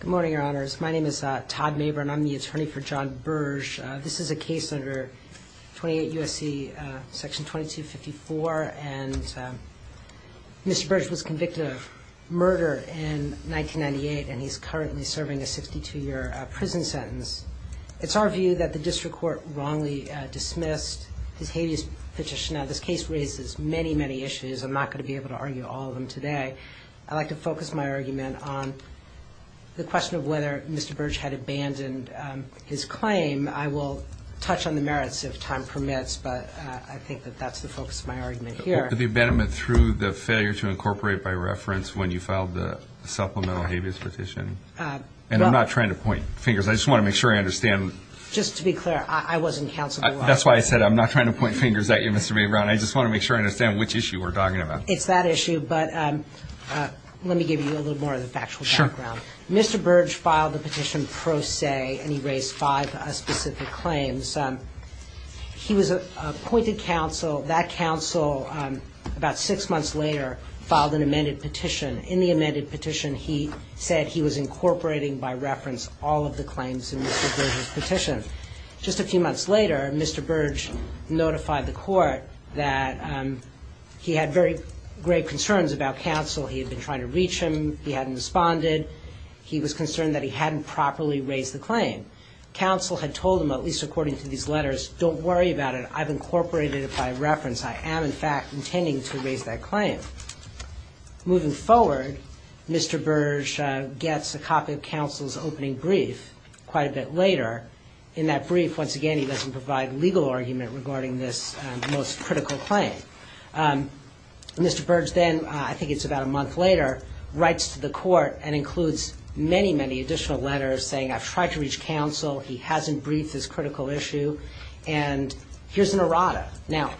Good morning, Your Honors. My name is Todd Mabern. I'm the attorney for John Berge. This is a case under 28 U.S.C. § 2254, and Mr. Berge was convicted of murder in 1998, and he's currently serving a 62-year prison sentence. It's our view that the district court wrongly dismissed his habeas petition. Now, this case raises many, many issues. I'm not going to be able to argue all of them today. I'd like to focus my argument on the question of whether Mr. Berge had abandoned his claim. I will touch on the merits if time permits, but I think that that's the focus of my argument here. The abandonment through the failure to incorporate by reference when you filed the supplemental habeas petition, and I'm not trying to point fingers. I just want to make sure I understand. Just to be clear, I wasn't counseled. That's why I said I'm not trying to point fingers at you, Mr. Mabern. I just want to make sure I understand which issue we're talking about. It's that issue, but let me give you a little more of the factual background. Sure. Mr. Berge filed the petition pro se, and he raised five specific claims. He was appointed counsel. That counsel, about six months later, filed an amended petition. In the amended petition, he said he was incorporating by reference all of the claims in Mr. Berge's petition. Just a few months later, Mr. Berge notified the court that he had very grave concerns about counsel. He had been trying to reach him. He hadn't responded. He was concerned that he hadn't properly raised the claim. Counsel had told him, at least according to these letters, don't worry about it. I've incorporated it by reference. I am, in fact, intending to raise that claim. Moving forward, Mr. Berge gets a copy of counsel's opening brief quite a bit later. In that brief, once again, he doesn't provide legal argument regarding this most critical claim. Mr. Berge then, I think it's about a month later, writes to the court and includes many, many additional letters saying, I've tried to reach counsel. He hasn't briefed this critical issue. And here's an errata. Now,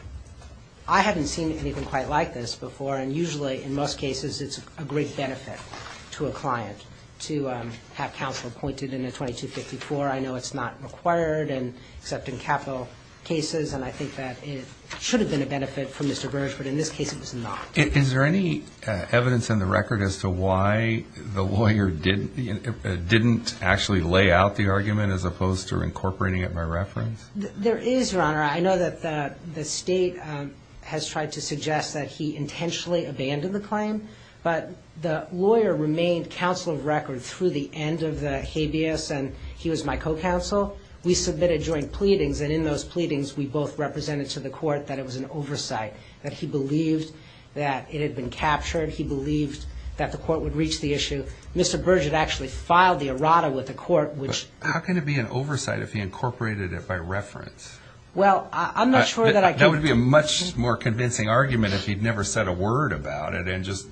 I haven't seen anything quite like this before. And usually, in most cases, it's a great benefit to a client to have counsel appointed in a 2254. I know it's not required, except in capital cases. And I think that it should have been a benefit for Mr. Berge. But in this case, it was not. Is there any evidence in the record as to why the lawyer didn't actually lay out the argument as opposed to incorporating it by reference? There is, Your Honor. I know that the state has tried to suggest that he intentionally abandoned the claim. But the lawyer remained counsel of record through the end of the habeas. And he was my co-counsel. We submitted joint pleadings. And in those pleadings, we both represented to the court that it was an oversight, that he believed that it had been captured. He believed that the court would reach the issue. Mr. Berge had actually filed the errata with the court, which — But how can it be an oversight if he incorporated it by reference? Well, I'm not sure that I can — That would be a much more convincing argument if he'd never said a word about it and just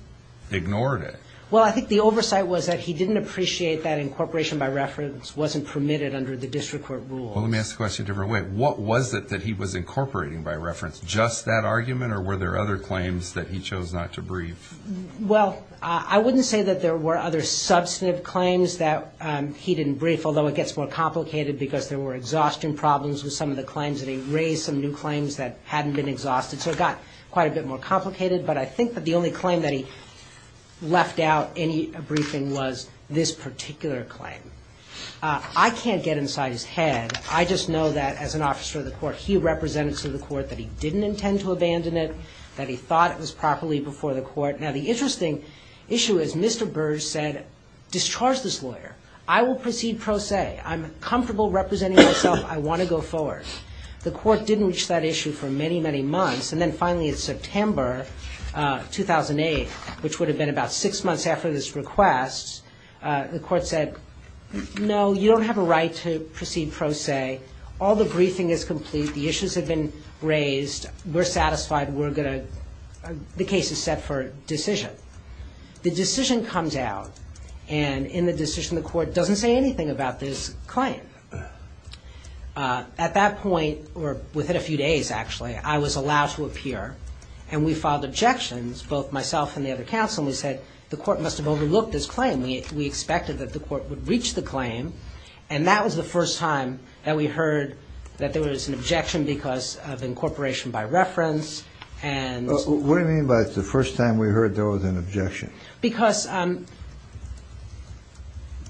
ignored it. Well, I think the oversight was that he didn't appreciate that incorporation by reference wasn't permitted under the district court rule. Well, let me ask the question a different way. What was it that he was incorporating by reference? Just that argument, or were there other claims that he chose not to brief? Well, I wouldn't say that there were other substantive claims that he didn't brief, although it gets more complicated because there were exhaustion problems with some of the claims that he raised, some new claims that hadn't been exhausted. So it got quite a bit more complicated, but I think that the only claim that he left out in a briefing was this particular claim. I can't get inside his head. I just know that, as an officer of the court, he represented to the court that he didn't intend to abandon it, that he thought it was properly before the court. Now, the interesting issue is Mr. Berge said, discharge this lawyer. I will proceed pro se. I'm comfortable representing myself. I want to go forward. The court didn't reach that issue for many, many months, and then finally in September 2008, which would have been about six months after this request, the court said, no, you don't have a right to proceed pro se. All the briefing is complete. The issues have been raised. We're satisfied. The case is set for decision. The decision comes out, and in the decision, the court doesn't say anything about this claim. At that point, or within a few days, actually, I was allowed to appear, and we filed objections, both myself and the other counsel, and we said, the court must have overlooked this claim. We expected that the court would reach the claim, and that was the first time that we heard that there was an objection because of incorporation by reference and... What do you mean by the first time we heard there was an objection? Because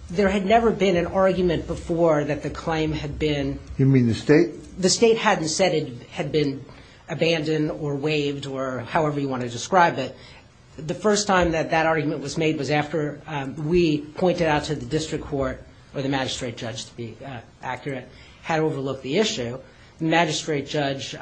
there had never been an argument before that the claim had been... You mean the state? The state hadn't said it had been abandoned or waived or however you want to describe it. The first time that that argument was made was after we pointed out to the district court, or the magistrate judge, to be accurate, had overlooked the issue. The magistrate judge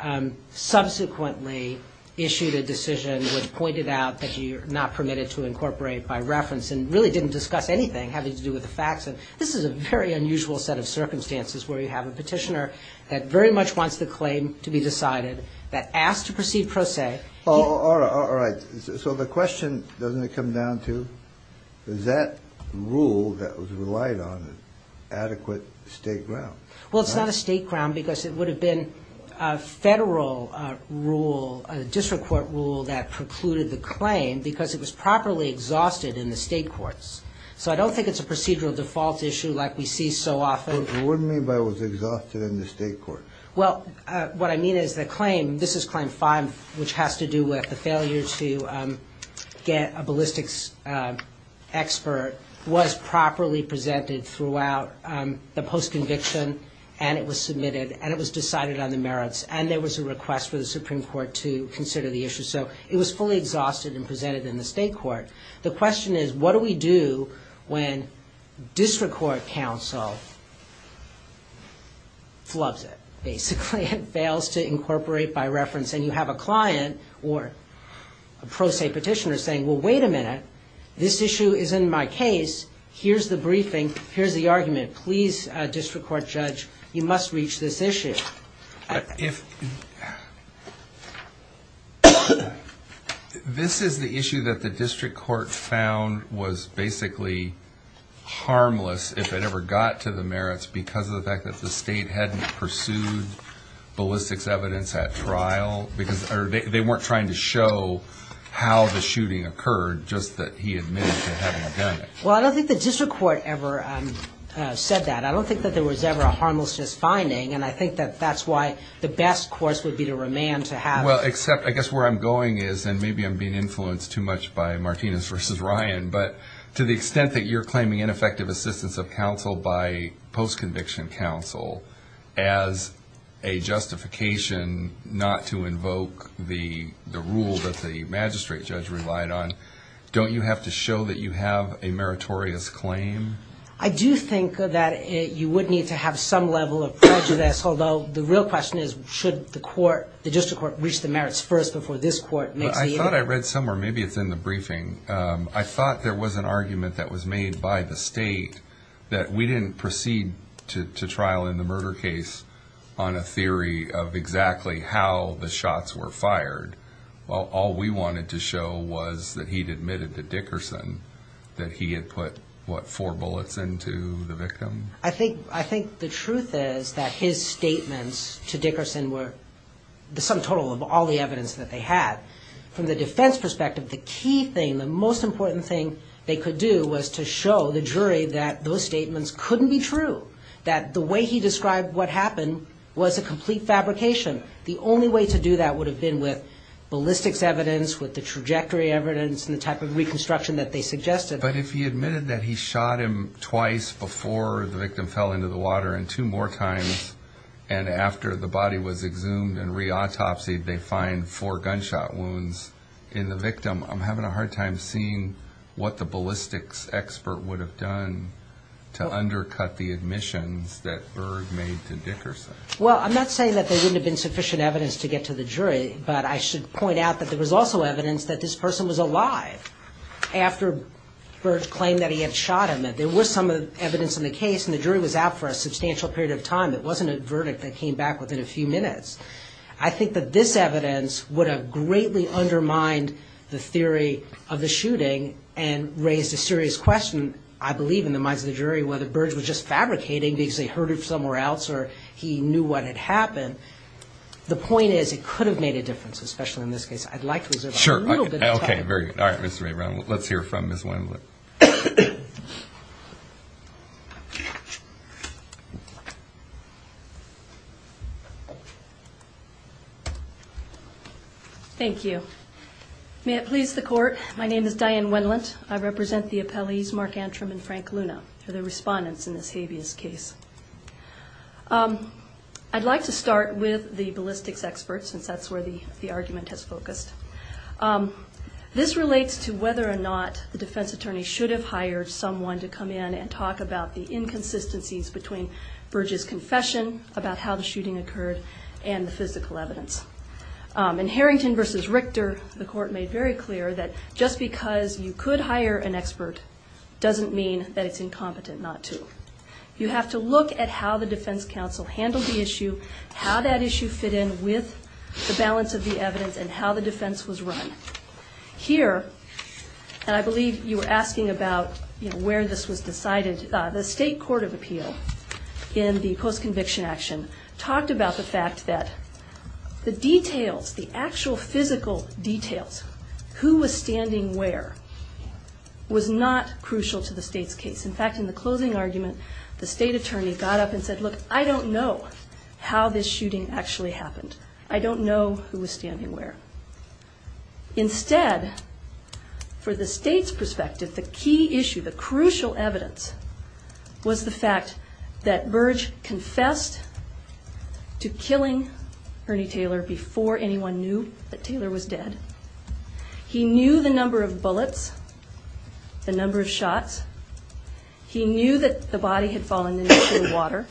subsequently issued a decision which pointed out that you're not permitted to incorporate by reference and really didn't discuss anything having to do with the facts. This is a very unusual set of circumstances where you have a petitioner that very much wants the claim to be decided, that asks to proceed pro se. All right. So the question, doesn't it come down to, is that rule that was relied on adequate state ground? Well, it's not a state ground because it would have been a federal rule, a district court rule, that precluded the claim because it was properly exhausted in the state courts. So I don't think it's a procedural default issue like we see so often. What do you mean by it was exhausted in the state courts? Well, what I mean is the claim, this is Claim 5, which has to do with the failure to get a ballistics expert, was properly presented throughout the post-conviction and it was submitted and it was decided on the merits and there was a request for the Supreme Court to consider the issue. So it was fully exhausted and presented in the state court. The question is, what do we do when district court counsel flubs it, basically, it fails to incorporate by reference and you have a client or a pro se petitioner saying, well, wait a minute, this issue is in my case, here's the briefing, here's the argument. Please, district court judge, you must reach this issue. This is the issue that the district court found was basically harmless if it ever got to the merits because of the fact that the state hadn't pursued ballistics evidence at trial because they weren't trying to show how the shooting occurred, just that he admitted to having done it. Well, I don't think the district court ever said that. I don't think that there was ever a harmless finding and I think that that's why the best course would be to remand to have it. Well, except I guess where I'm going is, and maybe I'm being influenced too much by Martinez v. Ryan, but to the extent that you're claiming ineffective assistance of counsel by post-conviction counsel as a justification not to invoke the rule that the magistrate judge relied on, don't you have to show that you have a meritorious claim? I do think that you would need to have some level of prejudice, although the real question is, should the court, the district court, reach the merits first before this court makes the inquiry? I thought I read somewhere, maybe it's in the briefing, I thought there was an argument that was made by the state that we didn't proceed to trial in the murder case on a theory of exactly how the shots were fired. All we wanted to show was that he'd admitted to Dickerson that he had put, what, four bullets into the victim? I think the truth is that his statements to Dickerson were the sum total of all the evidence that they had. From the defense perspective, the key thing, the most important thing they could do was to show the jury that those statements couldn't be true, that the way he described what happened was a complete fabrication. The only way to do that would have been with ballistics evidence, with the trajectory evidence and the type of reconstruction that they suggested. But if he admitted that he shot him twice before the victim fell into the water and two more times, and after the body was exhumed and re-autopsied, they find four gunshot wounds in the victim, I'm having a hard time seeing what the ballistics expert would have done to undercut the admissions that Berg made to Dickerson. Well, I'm not saying that there wouldn't have been sufficient evidence to get to the jury, but I should point out that there was also evidence that this person was alive after Berg claimed that he had shot him. There was some evidence in the case, and the jury was out for a substantial period of time. It wasn't a verdict that came back within a few minutes. I think that this evidence would have greatly undermined the theory of the shooting and raised a serious question, I believe, in the minds of the jury, whether Berg was just fabricating because he heard it somewhere else or he knew what had happened. The point is it could have made a difference, especially in this case. I'd like to reserve a little bit of time. Okay, very good. All right, Mr. Maybrown, let's hear from Ms. Wendlandt. Thank you. May it please the Court, my name is Diane Wendlandt. I represent the appellees Mark Antrim and Frank Luna. They're the respondents in this habeas case. I'd like to start with the ballistics experts, since that's where the argument has focused. This relates to whether or not the defense attorney should have hired someone to come in and talk about the inconsistencies between Berg's confession, about how the shooting occurred, and the physical evidence. In Harrington v. Richter, the Court made very clear that just because you could hire an expert doesn't mean that it's incompetent not to. You have to look at how the defense counsel handled the issue, how that issue fit in with the balance of the evidence, and how the defense was run. Here, and I believe you were asking about where this was decided, the state court of appeal in the post-conviction action talked about the fact that the details, the actual physical details, who was standing where, was not crucial to the state's case. In fact, in the closing argument, the state attorney got up and said, look, I don't know how this shooting actually happened. I don't know who was standing where. Instead, for the state's perspective, the key issue, the crucial evidence, was the fact that Berg confessed to killing Ernie Taylor before anyone knew that Taylor was dead. He knew the number of bullets, the number of shots. He knew that the body had fallen into the water.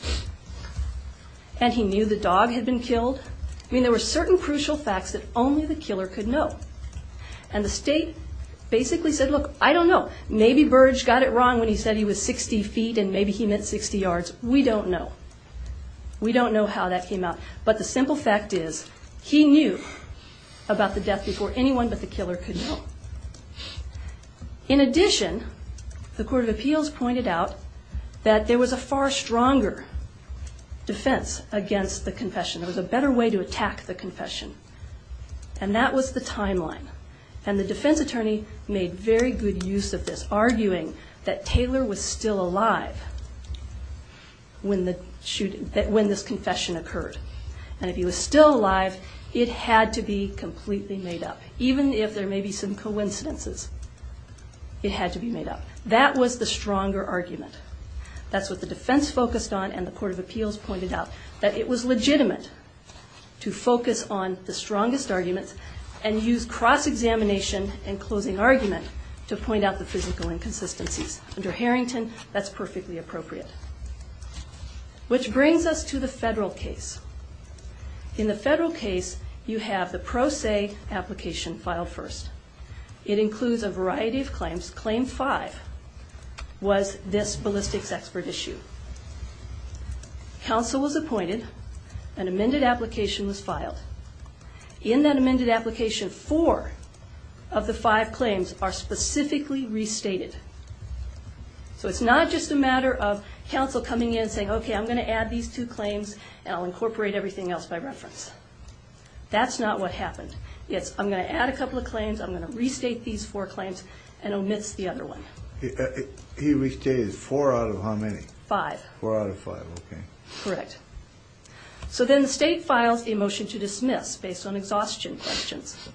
And he knew the dog had been killed. I mean, there were certain crucial facts that only the killer could know. And the state basically said, look, I don't know. Maybe Berg got it wrong when he said he was 60 feet and maybe he meant 60 yards. We don't know. We don't know how that came out. But the simple fact is he knew about the death before anyone but the killer could know. In addition, the Court of Appeals pointed out that there was a far stronger defense against the confession. There was a better way to attack the confession. And that was the timeline. And the defense attorney made very good use of this, arguing that Taylor was still alive when this confession occurred. And if he was still alive, it had to be completely made up. Even if there may be some coincidences, it had to be made up. That was the stronger argument. That's what the defense focused on, and the Court of Appeals pointed out, that it was legitimate to focus on the strongest arguments and use cross-examination and closing argument to point out the physical inconsistencies. Under Harrington, that's perfectly appropriate. Which brings us to the federal case. In the federal case, you have the pro se application filed first. It includes a variety of claims. Claim five was this ballistics expert issue. Counsel was appointed. An amended application was filed. In that amended application, four of the five claims are specifically restated. So it's not just a matter of counsel coming in and saying, okay, I'm going to add these two claims, and I'll incorporate everything else by reference. That's not what happened. It's, I'm going to add a couple of claims, I'm going to restate these four claims, and omits the other one. He restated four out of how many? Five. Four out of five, okay. Correct. So then the state files a motion to dismiss based on exhaustion questions.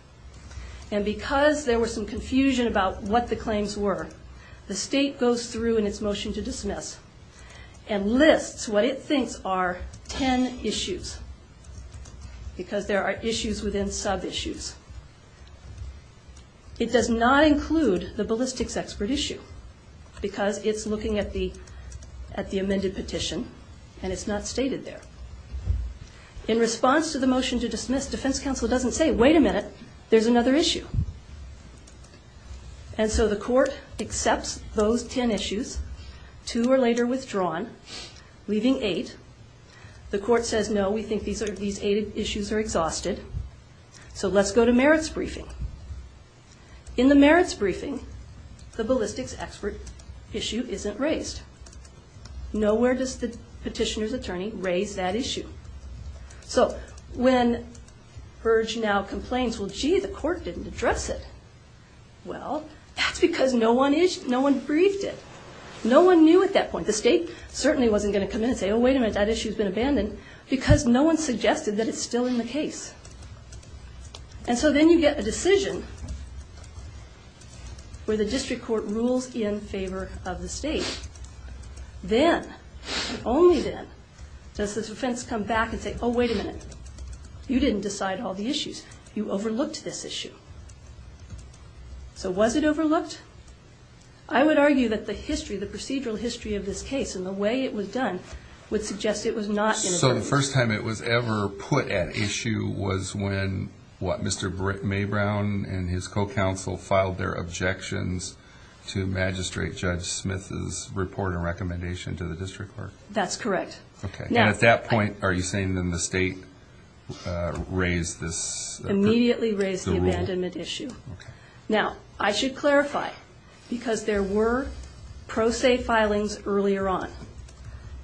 And because there was some confusion about what the claims were, the state goes through in its motion to dismiss and lists what it thinks are ten issues, because there are issues within sub-issues. It does not include the ballistics expert issue, because it's looking at the amended petition, and it's not stated there. In response to the motion to dismiss, defense counsel doesn't say, wait a minute, there's another issue. And so the court accepts those ten issues, two are later withdrawn, leaving eight. The court says, no, we think these eight issues are exhausted, so let's go to merits briefing. In the merits briefing, the ballistics expert issue isn't raised. Nowhere does the petitioner's attorney raise that issue. So when Burge now complains, well, gee, the court didn't address it. Well, that's because no one briefed it. No one knew at that point. The state certainly wasn't going to come in and say, oh, wait a minute, that issue's been abandoned, because no one suggested that it's still in the case. And so then you get a decision where the district court rules in favor of the state. Then, only then, does the defense come back and say, oh, wait a minute, you didn't decide all the issues. You overlooked this issue. So was it overlooked? I would argue that the history, the procedural history of this case So the first time it was ever put at issue was when, what, Mr. Maybrown and his co-counsel filed their objections to Magistrate Judge Smith's report and recommendation to the district court? That's correct. And at that point, are you saying then the state raised this? Immediately raised the abandonment issue. Now, I should clarify, because there were pro se filings earlier on.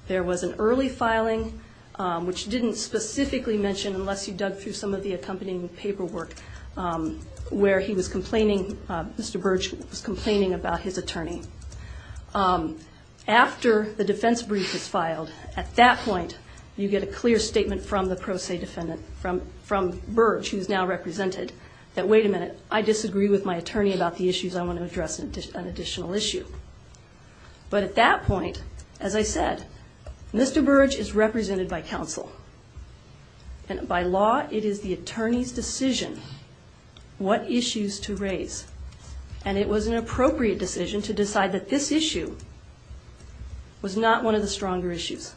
There was an early filing, which didn't specifically mention, unless you dug through some of the accompanying paperwork, where he was complaining, Mr. Burge was complaining about his attorney. After the defense brief was filed, at that point, you get a clear statement from the pro se defendant, from Burge, who's now represented, that wait a minute, I disagree with my attorney about the issues. I want to address an additional issue. But at that point, as I said, Mr. Burge is represented by counsel. And by law, it is the attorney's decision what issues to raise. And it was an appropriate decision to decide that this issue was not one of the stronger issues.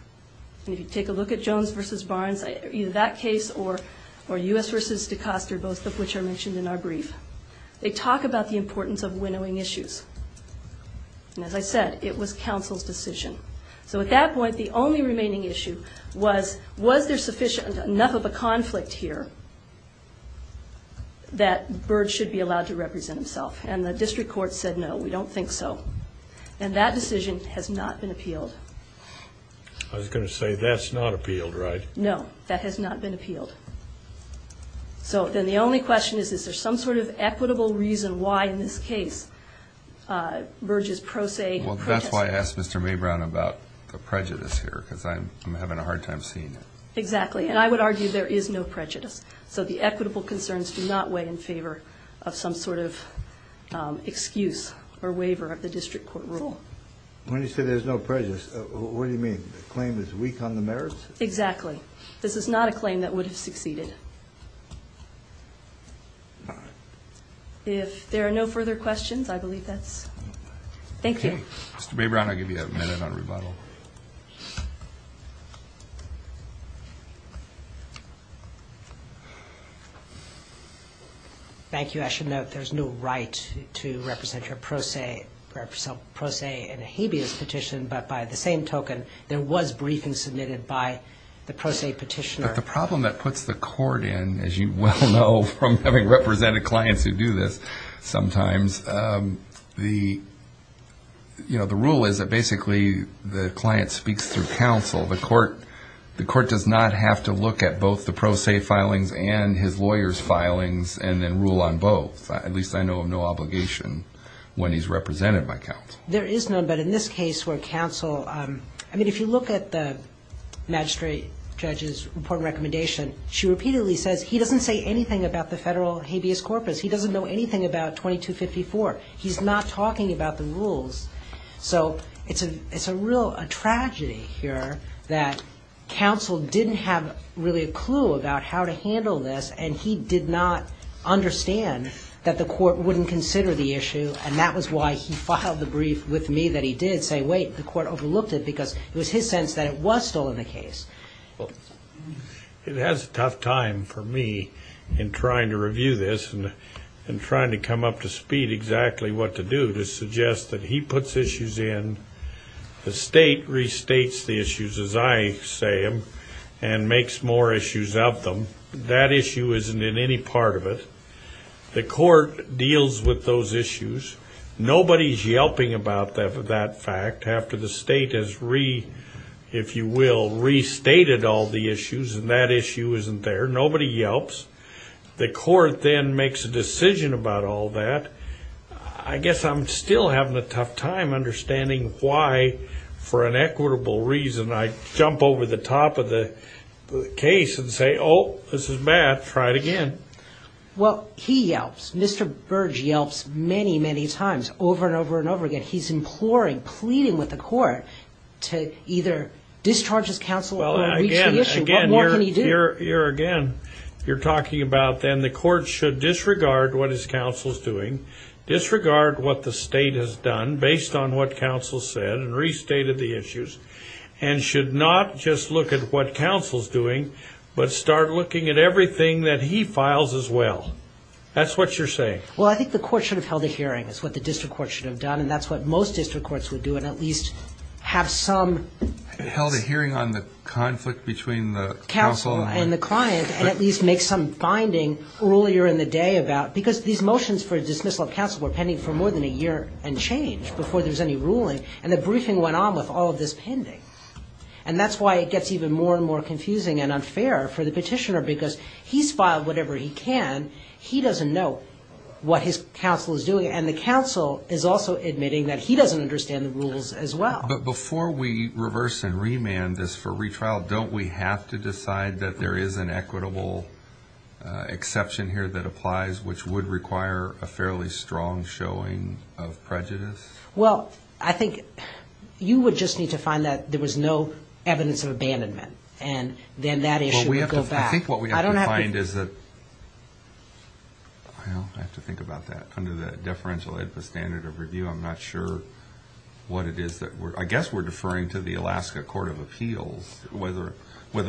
And if you take a look at Jones v. Barnes, either that case or U.S. v. DeCoster, both of which are mentioned in our brief, they talk about the importance of winnowing issues. And as I said, it was counsel's decision. So at that point, the only remaining issue was, was there sufficient enough of a conflict here that Burge should be allowed to represent himself? And the district court said, no, we don't think so. And that decision has not been appealed. I was going to say, that's not appealed, right? No, that has not been appealed. So then the only question is, is there some sort of equitable reason why in this case Burge's pro se prejudice? Well, that's why I asked Mr. Maybrown about the prejudice here, because I'm having a hard time seeing it. Exactly. And I would argue there is no prejudice. So the equitable concerns do not weigh in favor of some sort of excuse or waiver of the district court rule. When you say there's no prejudice, what do you mean? The claim is weak on the merits? Exactly. This is not a claim that would have succeeded. If there are no further questions, I believe that's all. Thank you. Mr. Maybrown, I'll give you a minute on rebuttal. Thank you. I should note there's no right to represent your pro se in a habeas petition, but by the same token, there was briefing submitted by the pro se petitioner. But the problem that puts the court in, as you well know, from having represented clients who do this sometimes, the rule is that basically the client speaks through counsel. The court does not have to look at both the pro se filings and his lawyer's filings and then rule on both. At least I know of no obligation when he's represented by counsel. There is none, but in this case where counsel – I mean, if you look at the magistrate judge's report and recommendation, she repeatedly says he doesn't say anything about the federal habeas corpus. He doesn't know anything about 2254. He's not talking about the rules. So it's a real tragedy here that counsel didn't have really a clue about how to handle this, and he did not understand that the court wouldn't consider the issue, and that was why he filed the brief with me that he did say, wait, the court overlooked it because it was his sense that it was still in the case. It has a tough time for me in trying to review this and trying to come up to speed exactly what to do to suggest that he puts issues in. The state restates the issues, as I say them, and makes more issues of them. That issue isn't in any part of it. The court deals with those issues. Nobody's yelping about that fact after the state has, if you will, restated all the issues, and that issue isn't there. Nobody yelps. The court then makes a decision about all that. I guess I'm still having a tough time understanding why, for an equitable reason, I jump over the top of the case and say, oh, this is bad. Try it again. Well, he yelps. Mr. Burge yelps many, many times over and over and over again. He's imploring, pleading with the court to either discharge his counsel or reach the issue. What more can he do? Again, you're talking about then the court should disregard what his counsel's doing, disregard what the state has done based on what counsel said and restated the issues, and should not just look at what counsel's doing but start looking at everything that he files as well. That's what you're saying. Well, I think the court should have held a hearing, is what the district court should have done, and that's what most district courts would do, and at least have some. Held a hearing on the conflict between the counsel and the client and at least make some finding earlier in the day about, because these motions for dismissal of counsel were pending for more than a year and change before there was any ruling, and the briefing went on with all of this pending. And that's why it gets even more and more confusing and unfair for the petitioner because he's filed whatever he can. He doesn't know what his counsel is doing, and the counsel is also admitting that he doesn't understand the rules as well. But before we reverse and remand this for retrial, don't we have to decide that there is an equitable exception here that applies, which would require a fairly strong showing of prejudice? Well, I think you would just need to find that there was no evidence of abandonment, and then that issue would go back. I think what we have to find is that, well, I have to think about that. Under the deferential AEDPA standard of review, I'm not sure what it is. I guess we're deferring to the Alaska Court of Appeals, whether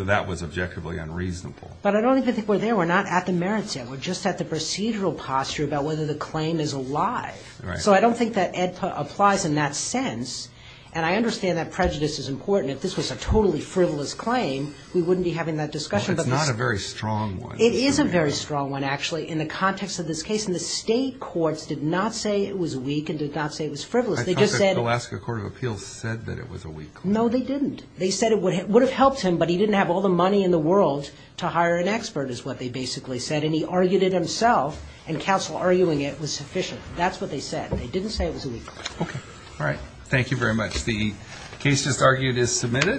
that was objectively unreasonable. But I don't even think we're there. We're not at the merits yet. We're just at the procedural posture about whether the claim is alive. So I don't think that AEDPA applies in that sense, and I understand that prejudice is important. If this was a totally frivolous claim, we wouldn't be having that discussion. Well, it's not a very strong one. It is a very strong one, actually, in the context of this case, and the state courts did not say it was weak and did not say it was frivolous. I thought the Alaska Court of Appeals said that it was a weak claim. No, they didn't. They said it would have helped him, but he didn't have all the money in the world to hire an expert is what they basically said, and he argued it himself, and counsel arguing it was sufficient. That's what they said. They didn't say it was weak. Okay. All right. Thank you very much. The case just argued is submitted.